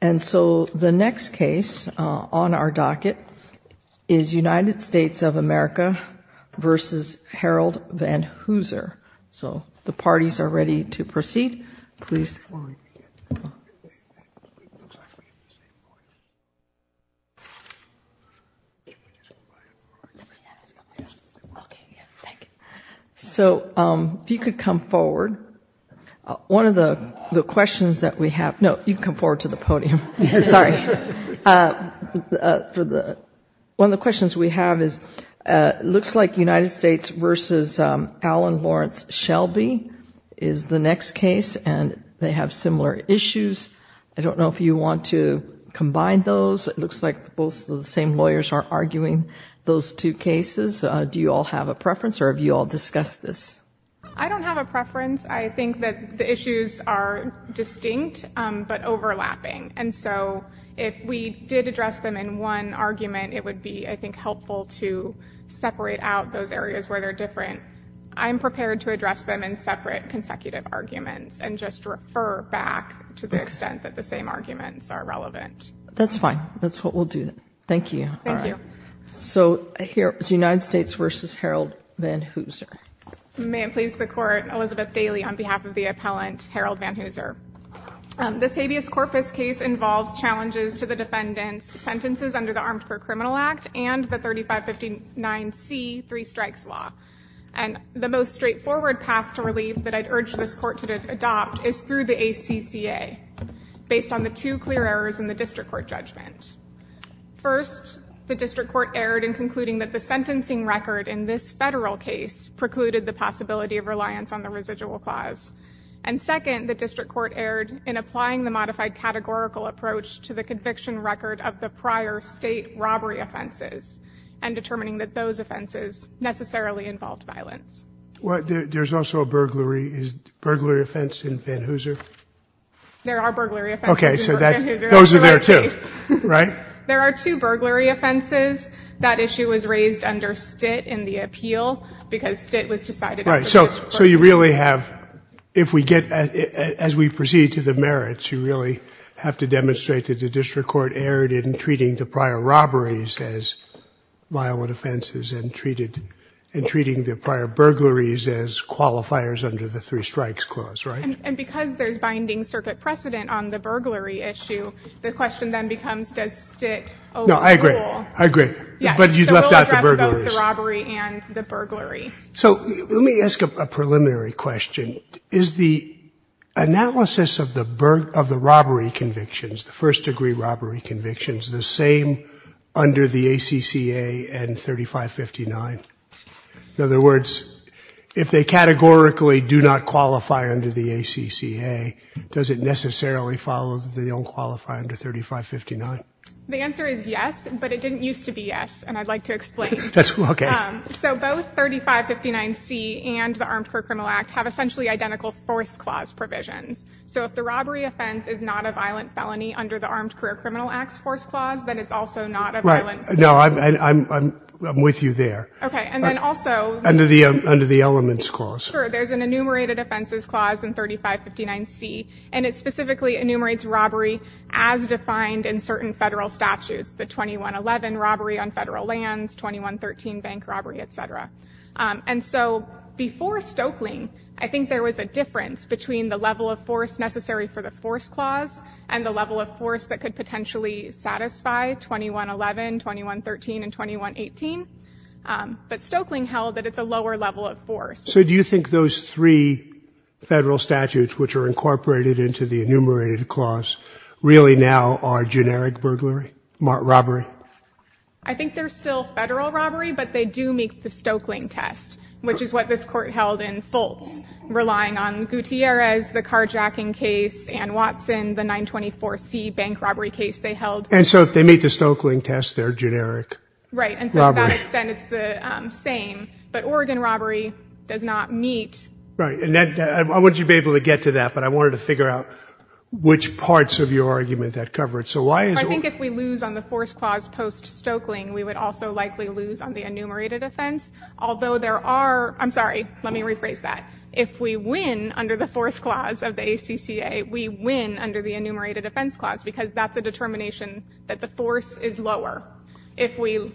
The next case on our docket is United States of America v. Harold VanHooser. The parties are ready to proceed. If you could come forward. One of the questions we have is it looks like United States v. Alan Lawrence Shelby is the next case and they have similar issues. I don't know if you want to combine those. It looks like both of the same lawyers are arguing those two cases. Do you all have a preference or have you all discussed this? I don't have a preference. I think the issues are distinct but overlapping. If we did address them in one argument, it would be helpful to separate out those areas where they're different. I'm prepared to address them in separate consecutive arguments and just refer back to the extent that the same arguments are relevant. That's fine. That's what we'll do. Thank you. Here is United States v. Harold VanHooser. This habeas corpus case involves challenges to the defendant's sentences under the Armed Criminal Act and the 3559C three strikes law. The most straightforward path to relief that I'd urge this court to adopt is through the ACCA based on the two clear errors in the district court judgment. First, the district court erred in concluding that the sentencing record in this federal case precluded the possibility of reliance on the residual clause. Second, the district court erred in applying the modified categorical approach to the conviction record of the prior state robbery offenses and determining that those offenses necessarily involved violence. There's also a burglary offense in VanHooser? There are two burglary offenses. That issue was raised under STIT in the appeal because STIT was decided. So you really have, if we get, as we proceed to the merits, you really have to demonstrate that the district court erred in treating the prior robberies as violent offenses and treating the prior burglaries as qualifiers under the three strikes clause, right? And because there's binding circuit precedent on the burglary issue, the question then becomes, does STIT overrule? No, I agree. I agree. But you left out the burglaries. So let me ask a preliminary question. Is the analysis of the robbery convictions, the first degree robbery convictions, the same under the ACCA and 3559? In other words, if they categorically do not qualify under the ACCA, does it necessarily follow that they don't qualify under 3559? The answer is yes, but it didn't used to be yes, and I'd like to explain. So both 3559C and the Armed Career Criminal Act have essentially identical force clause provisions. So if the robbery offense is not a violent felony under the Armed Career Criminal Act's force clause, then it's also not a violent felony. No, I'm with you there. Okay. And then also under the elements clause. Sure, there's an enumerated offenses clause in 3559C, and it specifically enumerates robbery as defined in certain federal statutes, the 2111 robbery on federal lands, 2113 bank robbery, et cetera. And so before Stokeling, I think there was a difference between the level of force necessary for the force clause and the level of force that could potentially satisfy 2111, 2113, and 2118. But Stokeling held that it's a lower level of force. So do you think those three federal statutes, which are incorporated into the enumerated clause, really now are generic burglary, robbery? I think they're still federal robbery, but they do meet the Stokeling test, which is what this Court held in Fultz, relying on Gutierrez, the carjacking case, Ann Watson, the 924C bank robbery case they held. And so if they meet the Stokeling test, they're generic robbery. Right, and so to that extent, it's the same. But Oregon robbery does not meet... Right, and I want you to be able to get to that, but I wanted to figure out which parts of your argument that cover it. So why is... I think if we lose on the force clause post-Stokeling, we would also likely lose on the enumerated offense, although there are... I'm sorry, let me rephrase that. If we win under the force clause of the ACCA, we win under the enumerated offense clause, because that's a determination that the force is lower. If we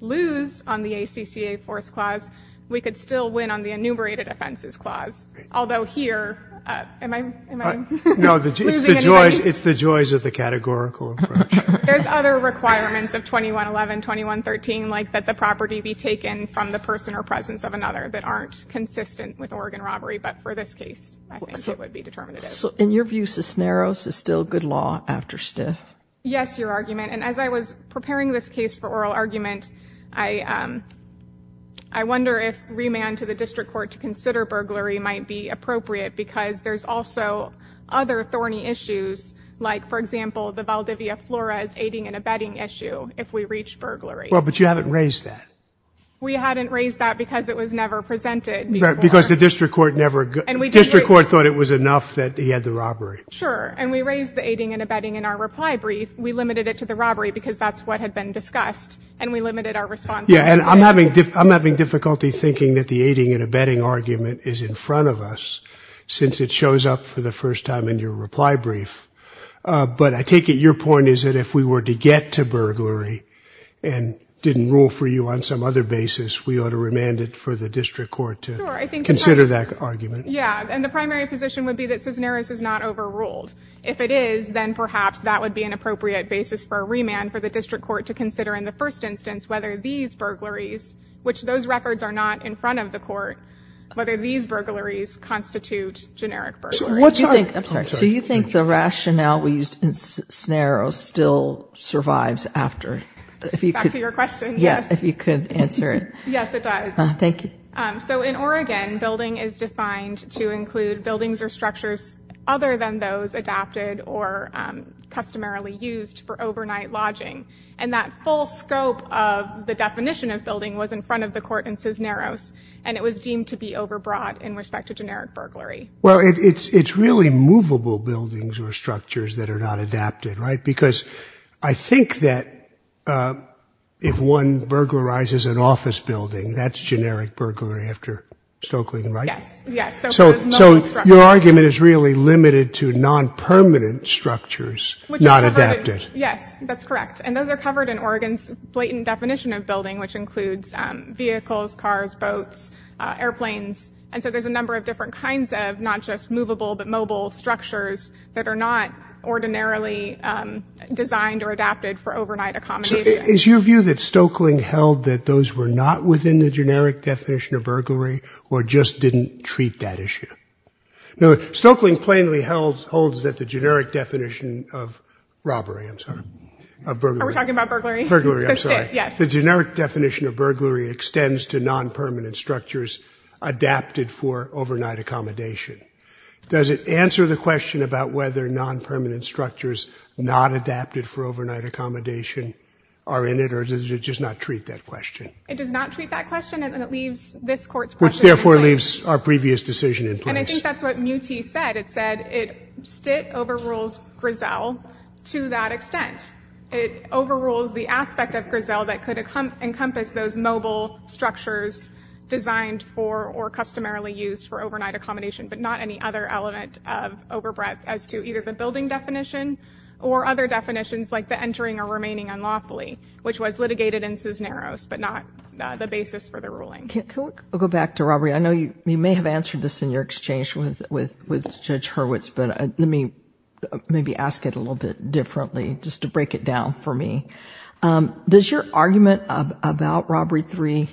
lose on the ACCA force clause, we could still win on the enumerated offenses clause, although here, am I losing anybody? No, it's the joys of the categorical approach. There's other requirements of 2111, 2113, like that the property be taken from the person or presence of another that aren't consistent with Oregon robbery, but for this case, I think it would be determinative. So in your view, Cisneros is still good law after Stiff? Yes, your argument, and as I was preparing this case for oral argument, I wonder if remand to the district court to consider burglary might be appropriate, because there's also other thorny issues, like, for example, the Valdivia Flores aiding and abetting issue, if we reach burglary. Well, but you haven't raised that. We hadn't raised that because it was never presented before. Because the district court thought it was enough that he had the robbery. Sure, and we raised the aiding and abetting in our reply brief. We limited it to the robbery because that's what had been discussed, and we limited our response. Yeah, and I'm having difficulty thinking that the aiding and abetting argument is in front of us, since it shows up for the first time in your reply brief. But I take it your point is that if we were to get to burglary and didn't rule for you on some other basis, we ought to remand it for the district court to consider that argument. Yeah, and the primary position would be that Cisneros is not overruled. If it is, then perhaps that would be an appropriate basis for a remand for the district court to consider in the first instance whether these burglaries, which those records are not in front of the court, whether these burglaries constitute generic burglary. I'm sorry. So you think the rationale we used in Cisneros still survives after? Back to your question, yes. Yeah, if you could answer it. Yes, it does. Thank you. So in Oregon, building is defined to include buildings or structures other than those adapted or customarily used for overnight lodging. And that full scope of the definition of building was in front of the court in Cisneros, and it was deemed to be overbrought in respect to generic burglary. Well, it's really movable buildings or structures that are not adapted, right? Because I think that if one burglarizes an office building, that's generic burglary after Stokeling, right? Yes, yes. So your argument is really limited to non-permanent structures not adapted. Yes, that's correct. And those are covered in Oregon's blatant definition of building, which includes vehicles, cars, boats, airplanes. And so there's a number of different kinds of not just movable but mobile structures that are not ordinarily designed or adapted for overnight accommodation. Is your view that Stokeling held that those were not within the generic definition of burglary or just didn't treat that issue? No, Stokeling plainly holds that the generic definition of robbery, I'm sorry, of burglary. Are we talking about burglary? Burglary, I'm sorry. Yes. The generic definition of burglary extends to non-permanent structures adapted for overnight accommodation. Does it answer the question about whether non-permanent structures not adapted for overnight accommodation are in it, or does it just not treat that question? It does not treat that question, and it leaves this court's question in place. Which therefore leaves our previous decision in place. And I think that's what Muti said. It said it overrules Grisel to that extent. It overrules the aspect of Grisel that could encompass those mobile structures designed for or customarily used for overnight accommodation, but not any other element of overbreadth as to either the building definition or other definitions like the entering or remaining unlawfully, which was litigated in Cisneros, but not the basis for the ruling. Can we go back to robbery? I know you may have answered this in your exchange with Judge Hurwitz, but let me maybe ask it a little bit differently just to break it down for me. Does your argument about Robbery III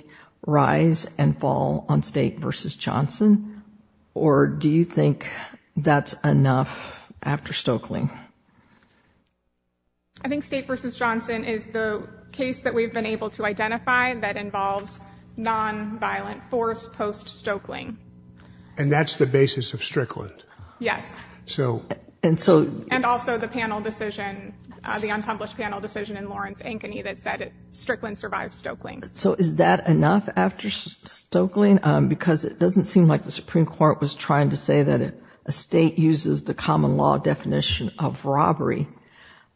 rise and fall on State versus Johnson, or do you think that's enough after Stoeckling? I think State versus Johnson is the case that we've been able to identify that involves nonviolent force post-Stoeckling. And that's the basis of Strickland? Yes. And also the panel decision, the unpublished panel decision in Lawrence-Ankeny that said Strickland survived Stoeckling. So is that enough after Stoeckling? Because it doesn't seem like the Supreme Court was trying to say that a State uses the common law definition of robbery,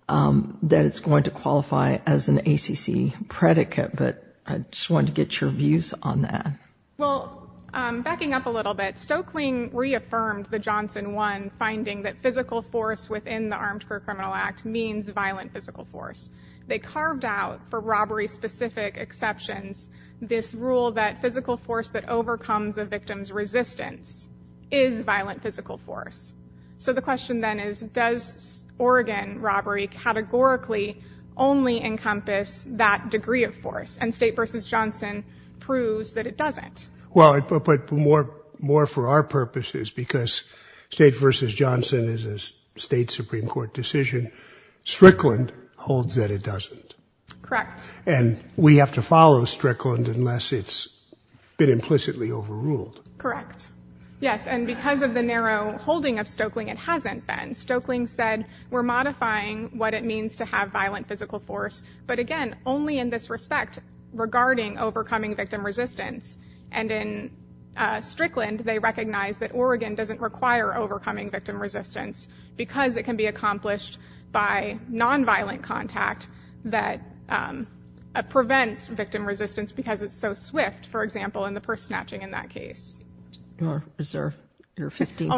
that it's going to qualify as an ACC predicate, but I just wanted to get your views on that. Well, backing up a little bit, Stoeckling reaffirmed the Johnson I finding that physical force within the Armed Criminal Act means violent physical force. They carved out for robbery-specific exceptions this rule that physical force that overcomes a victim's resistance is violent physical force. So the question then is, does Oregon robbery categorically only encompass that degree of force? And State versus Johnson proves that it doesn't. Well, but more for our purposes, because State versus Johnson is a State Supreme Court decision, Strickland holds that it doesn't. Correct. And we have to follow Strickland unless it's been implicitly overruled. Correct. Yes, and because of the narrow holding of Stoeckling, it hasn't been. Stoeckling said we're modifying what it means to have violent physical force, but again, only in this respect regarding overcoming victim resistance. And in Strickland, they recognize that Oregon doesn't require overcoming victim resistance because it can be accomplished by nonviolent contact that prevents victim resistance because it's so swift, for example, in the purse snatching in that case. You are reserved your 15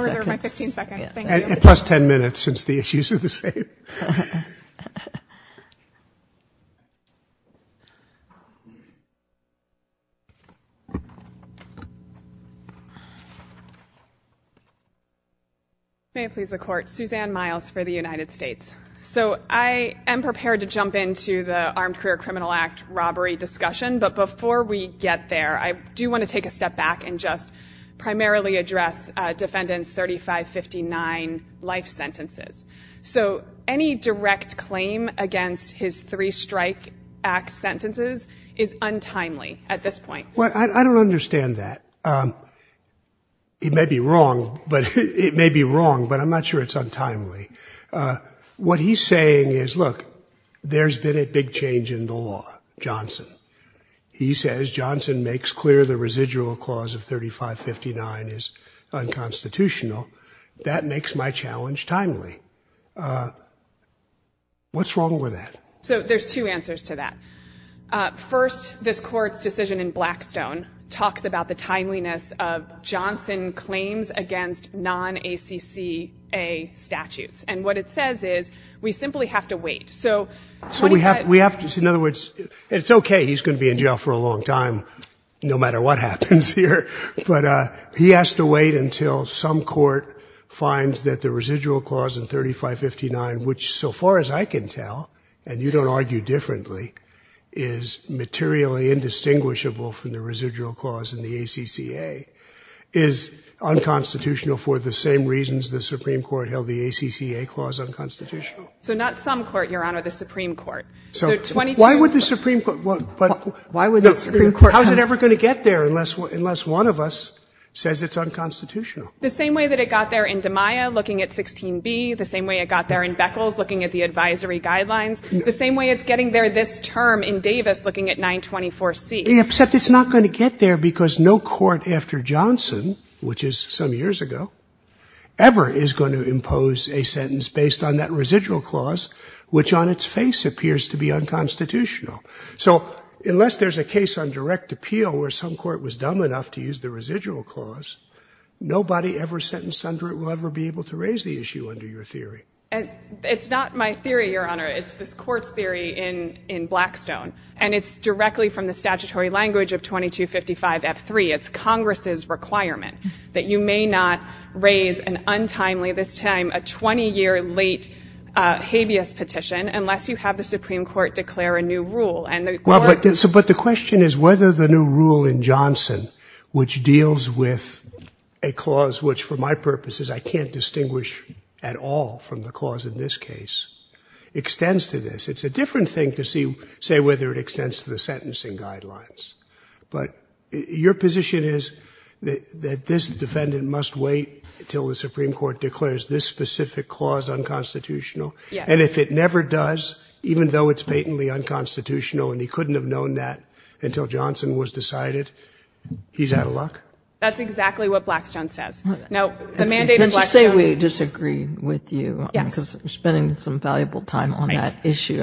seconds. Thank you. Plus 10 minutes since the issues are the same. May it please the Court. Suzanne Miles for the United States. So I am prepared to jump into the Armed Career Criminal Act robbery discussion, but before we get there, I do want to take a step back and just primarily address defendant's 3559 life sentences. So any direct claim against his three strike act sentences is untimely at this point. Well, I don't understand that. It may be wrong, but it may be wrong, but I'm not sure it's untimely. What he's saying is, look, there's been a big change in the law, Johnson. He says Johnson makes clear the residual clause of 3559 is unconstitutional. That makes my challenge timely. What's wrong with that? So there's two answers to that. First, this Court's decision in Blackstone talks about the timeliness of Johnson claims against non-ACCA statutes, and what it says is we simply have to wait. In other words, it's okay, he's going to be in jail for a long time no matter what happens here, but he has to wait until some court finds that the residual clause in 3559, which so far as I can tell, and you don't argue differently, is materially indistinguishable from the residual clause in the ACCA, is unconstitutional for the same reasons the Supreme Court held the ACCA clause unconstitutional. So not some court, Your Honor, the Supreme Court. So 22. Why would the Supreme Court? Why would the Supreme Court? How is it ever going to get there unless one of us says it's unconstitutional? The same way that it got there in DiMaia looking at 16b, the same way it got there in Beckles looking at the advisory guidelines, the same way it's getting there this term in Davis looking at 924C. Except it's not going to get there because no court after Johnson, which is some years ago, ever is going to impose a sentence based on that residual clause which on its face appears to be unconstitutional. So unless there's a case on direct appeal where some court was dumb enough to use the residual clause, nobody ever sentenced under it will ever be able to raise the issue under your theory. It's not my theory, Your Honor. It's this Court's theory in Blackstone, and it's directly from the statutory language of 2255F3. It's Congress's requirement that you may not raise an untimely, this time a 20-year late habeas petition unless you have the Supreme Court declare a new rule. But the question is whether the new rule in Johnson, which deals with a clause which for my purposes I can't distinguish at all from the clause in this case, extends to this. It's a different thing to say whether it extends to the sentencing guidelines. But your position is that this defendant must wait until the Supreme Court declares this specific clause unconstitutional. And if it never does, even though it's patently unconstitutional, and he couldn't have known that until Johnson was decided, he's out of luck? That's exactly what Blackstone says. Now, the mandate of Blackstone. Let's just say we disagree with you. Yes. Because we're spending some valuable time on that issue.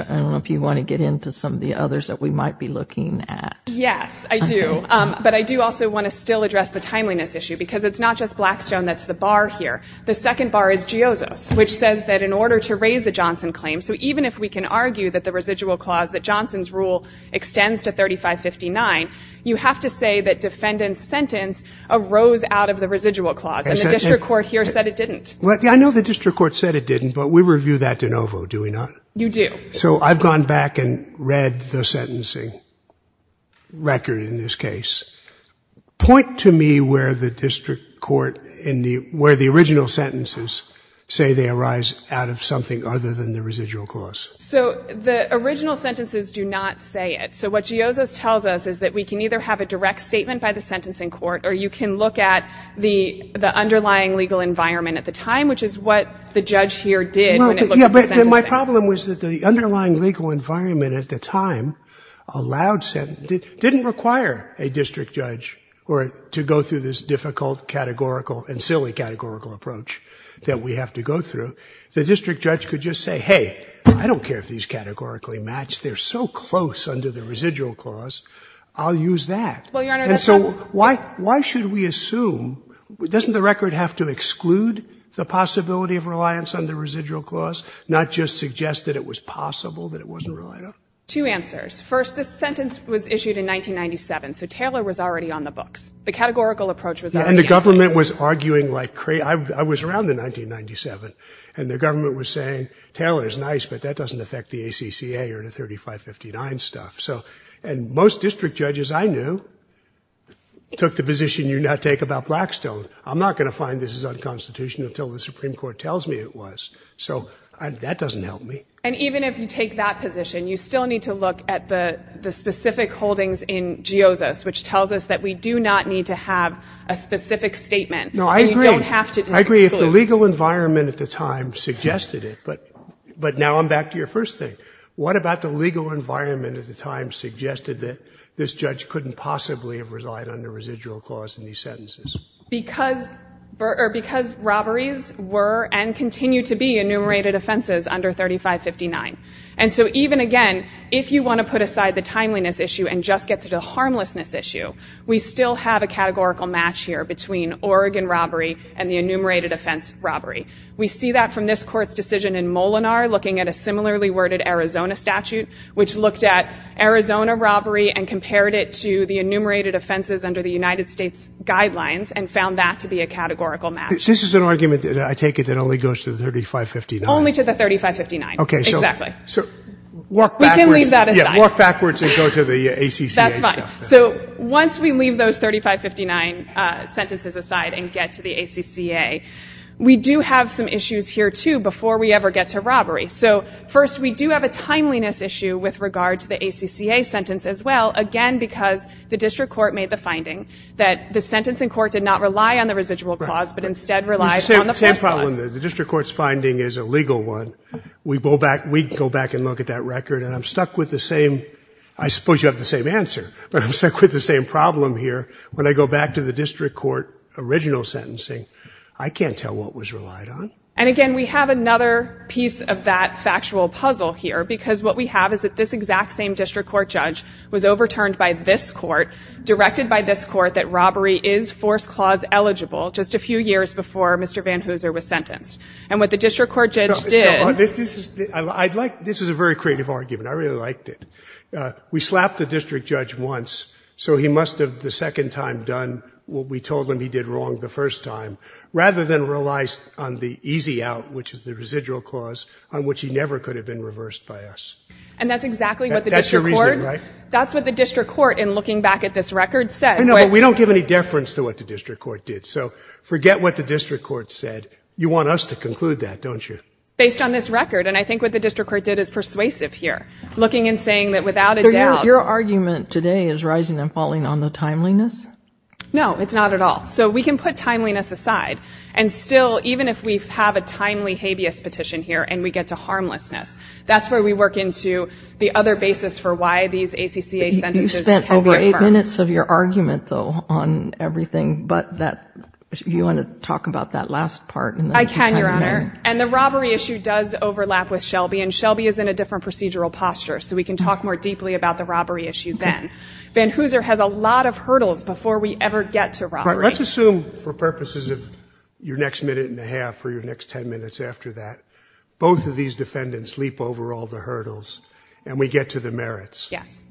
Yes, I do. But I do also want to still address the timeliness issue, because it's not just Blackstone that's the bar here. The second bar is GIOZOS, which says that in order to raise a Johnson claim, so even if we can argue that the residual clause, that Johnson's rule extends to 3559, you have to say that defendant's sentence arose out of the residual clause. And the district court here said it didn't. I know the district court said it didn't, but we review that de novo, do we not? You do. Okay. So I've gone back and read the sentencing record in this case. Point to me where the district court, where the original sentences say they arise out of something other than the residual clause. So the original sentences do not say it. So what GIOZOS tells us is that we can either have a direct statement by the sentencing court or you can look at the underlying legal environment at the time, which is what the judge here did when it looked at the sentencing. My problem was that the underlying legal environment at the time didn't require a district judge to go through this difficult categorical and silly categorical approach that we have to go through. The district judge could just say, hey, I don't care if these categorically match, they're so close under the residual clause, I'll use that. And so why should we assume, doesn't the record have to exclude the possibility of reliance on the residual clause? Not just suggest that it was possible that it wasn't relied on? Two answers. First, this sentence was issued in 1997, so Taylor was already on the books. The categorical approach was already in place. And the government was arguing like crazy. I was around in 1997 and the government was saying, Taylor is nice but that doesn't affect the ACCA or the 3559 stuff. And most district judges I knew took the position you now take about Blackstone. I'm not going to find this is unconstitutional until the Supreme Court tells me it was. So that doesn't help me. And even if you take that position, you still need to look at the specific holdings in Geosis, which tells us that we do not need to have a specific statement. No, I agree. And you don't have to exclude. I agree if the legal environment at the time suggested it. But now I'm back to your first thing. What about the legal environment at the time suggested that this judge couldn't possibly have relied on the residual clause in these sentences? Because robberies were and continue to be enumerated offenses under 3559. And so even again, if you want to put aside the timeliness issue and just get to the harmlessness issue, we still have a categorical match here between Oregon robbery and the enumerated offense robbery. We see that from this Court's decision in Molinar, looking at a similarly worded Arizona statute, which looked at Arizona robbery and compared it to the enumerated offenses under the United States guidelines and found that to be a categorical match. This is an argument, I take it, that only goes to 3559. Only to the 3559. Exactly. We can leave that aside. Walk backwards and go to the ACCA stuff. That's fine. So once we leave those 3559 sentences aside and get to the ACCA, we do have some issues here, too, before we ever get to robbery. So first, we do have a timeliness issue with regard to the ACCA sentence as well, again, because the district court made the finding that the sentencing court did not rely on the residual clause but instead relied on the first clause. It's the same problem. The district court's finding is a legal one. We go back and look at that record, and I'm stuck with the same ‑‑ I suppose you have the same answer, but I'm stuck with the same problem here. When I go back to the district court original sentencing, I can't tell what was relied on. And, again, we have another piece of that factual puzzle here because what we have is that this exact same district court judge was overturned by this court, directed by this court that robbery is force clause eligible just a few years before Mr. Van Hooser was sentenced. And what the district court judge did ‑‑ This is a very creative argument. I really liked it. We slapped the district judge once, so he must have the second time done what we told him he did wrong the first time, rather than relies on the easy out, which is the residual clause, on which he never could have been reversed by us. And that's exactly what the district court ‑‑ That's your reasoning, right? That's what the district court, in looking back at this record, said. I know, but we don't give any deference to what the district court did. So forget what the district court said. You want us to conclude that, don't you? Based on this record, and I think what the district court did is persuasive here, looking and saying that without a doubt ‑‑ Your argument today is rising and falling on the timeliness? No, it's not at all. So we can put timeliness aside. And still, even if we have a timely habeas petition here and we get to harmlessness, that's where we work into the other basis for why these ACCA sentences can be affirmed. You spent over eight minutes of your argument, though, on everything, but you want to talk about that last part, and then we can continue. I can, Your Honor. And the robbery issue does overlap with Shelby, and Shelby is in a different procedural posture, so we can talk more deeply about the robbery issue then. Van Hooser has a lot of hurdles before we ever get to robbery. All right. Let's assume for purposes of your next minute and a half or your next ten minutes after that, both of these defendants leap over all the hurdles and we get to the merits. Yes.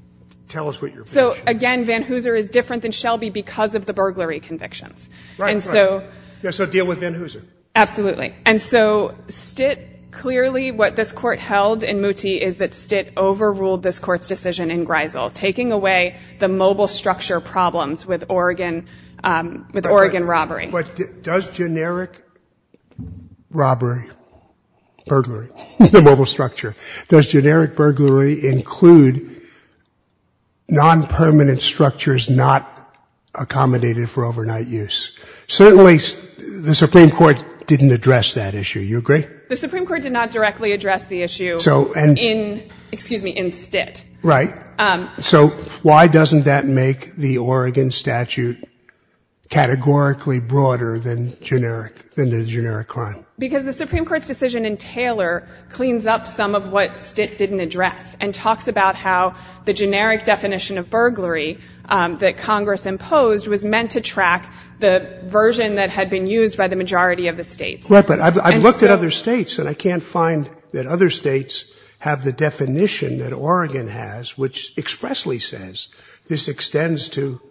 Tell us what your position is. So, again, Van Hooser is different than Shelby because of the burglary convictions. Right, right. And so ‑‑ Yes, so deal with Van Hooser. Absolutely. And so STIT clearly, what this court held in Mooty, is that STIT overruled this Court's decision in Greisel, taking away the mobile structure problems with Oregon robbery. But does generic robbery, burglary, the mobile structure, does generic burglary include nonpermanent structures not accommodated for overnight use? Certainly the Supreme Court didn't address that issue. You agree? The Supreme Court did not directly address the issue. Excuse me, in STIT. Right. So why doesn't that make the Oregon statute categorically broader than the generic crime? Because the Supreme Court's decision in Taylor cleans up some of what STIT didn't address and talks about how the generic definition of burglary that Congress imposed was meant to track the version that had been used by the majority of the states. Right, but I've looked at other states, and I can't find that other states have the definition that Oregon has, which expressly says this extends to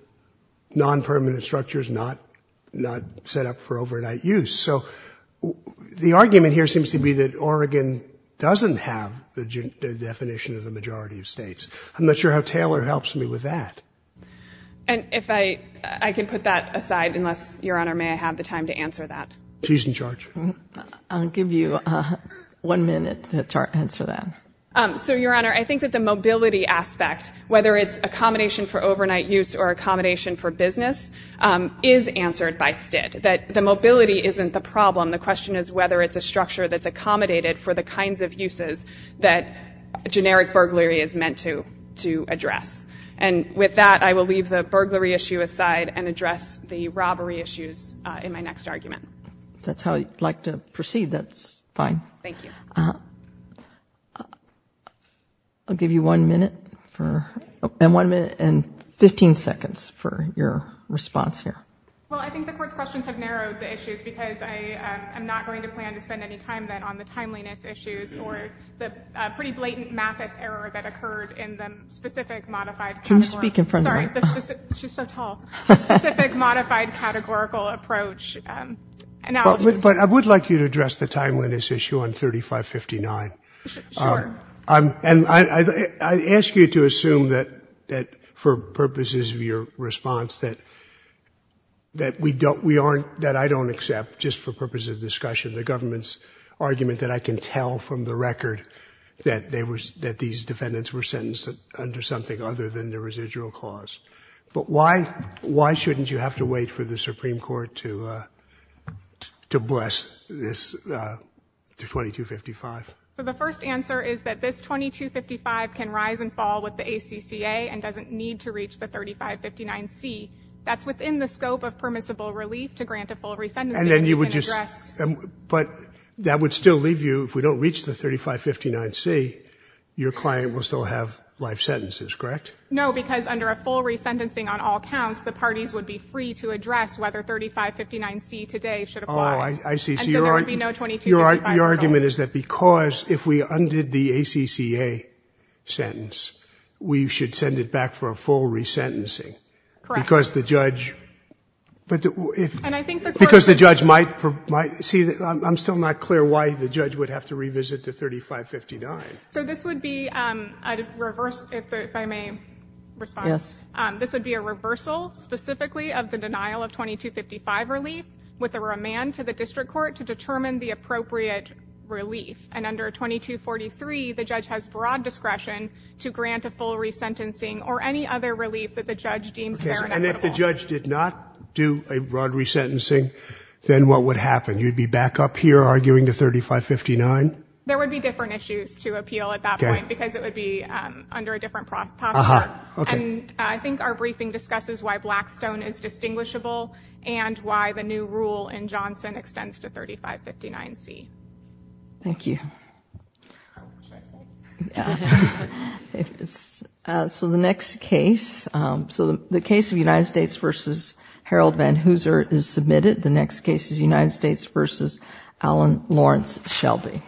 nonpermanent structures not set up for overnight use. So the argument here seems to be that Oregon doesn't have the definition of the majority of states. I'm not sure how Taylor helps me with that. And if I can put that aside, unless, Your Honor, may I have the time to answer that? Please, Judge. I'll give you one minute to answer that. So, Your Honor, I think that the mobility aspect, whether it's accommodation for overnight use or accommodation for business, is answered by STIT, that the mobility isn't the problem. The question is whether it's a structure that's accommodated for the kinds of uses that generic burglary is meant to address. And with that, I will leave the burglary issue aside and address the robbery issues in my next argument. If that's how you'd like to proceed, that's fine. Thank you. I'll give you one minute and 15 seconds for your response here. Well, I think the Court's questions have narrowed the issues because I'm not going to plan to spend any time then on the timeliness issues or the pretty blatant Mathis error that occurred in the specific modified category. Can you speak in front of her? Sorry. She's so tall. Specific modified categorical approach. But I would like you to address the timeliness issue on 3559. Sure. And I ask you to assume that, for purposes of your response, that I don't accept, just for purposes of discussion, the government's argument that I can tell from the record that these defendants were sentenced under something other than the residual clause. But why shouldn't you have to wait for the Supreme Court to bless this 2255? The first answer is that this 2255 can rise and fall with the ACCA and doesn't need to reach the 3559C. That's within the scope of permissible relief to grant a full resentment. But that would still leave you, if we don't reach the 3559C, your client will still have life sentences, correct? No, because under a full resentencing on all counts, the parties would be free to address whether 3559C today should apply. Oh, I see. So your argument is that because if we undid the ACCA sentence, we should send it back for a full resentencing. Correct. Because the judge might, see, I'm still not clear why the judge would have to revisit the 3559. So this would be a reverse, if I may respond. Yes. This would be a reversal specifically of the denial of 2255 relief with a remand to the district court to determine the appropriate relief. And under 2243, the judge has broad discretion to grant a full resentencing or any other relief that the judge deems fair and equitable. And if the judge did not do a broad resentencing, then what would happen? You'd be back up here arguing to 3559? There would be different issues to appeal at that point because it would be under a different posture. And I think our briefing discusses why Blackstone is distinguishable and why the new rule in Johnson extends to 3559C. Thank you. So the next case, so the case of United States v. Harold Van Hooser is submitted. The next case is United States v. Alan Lawrence Shelby.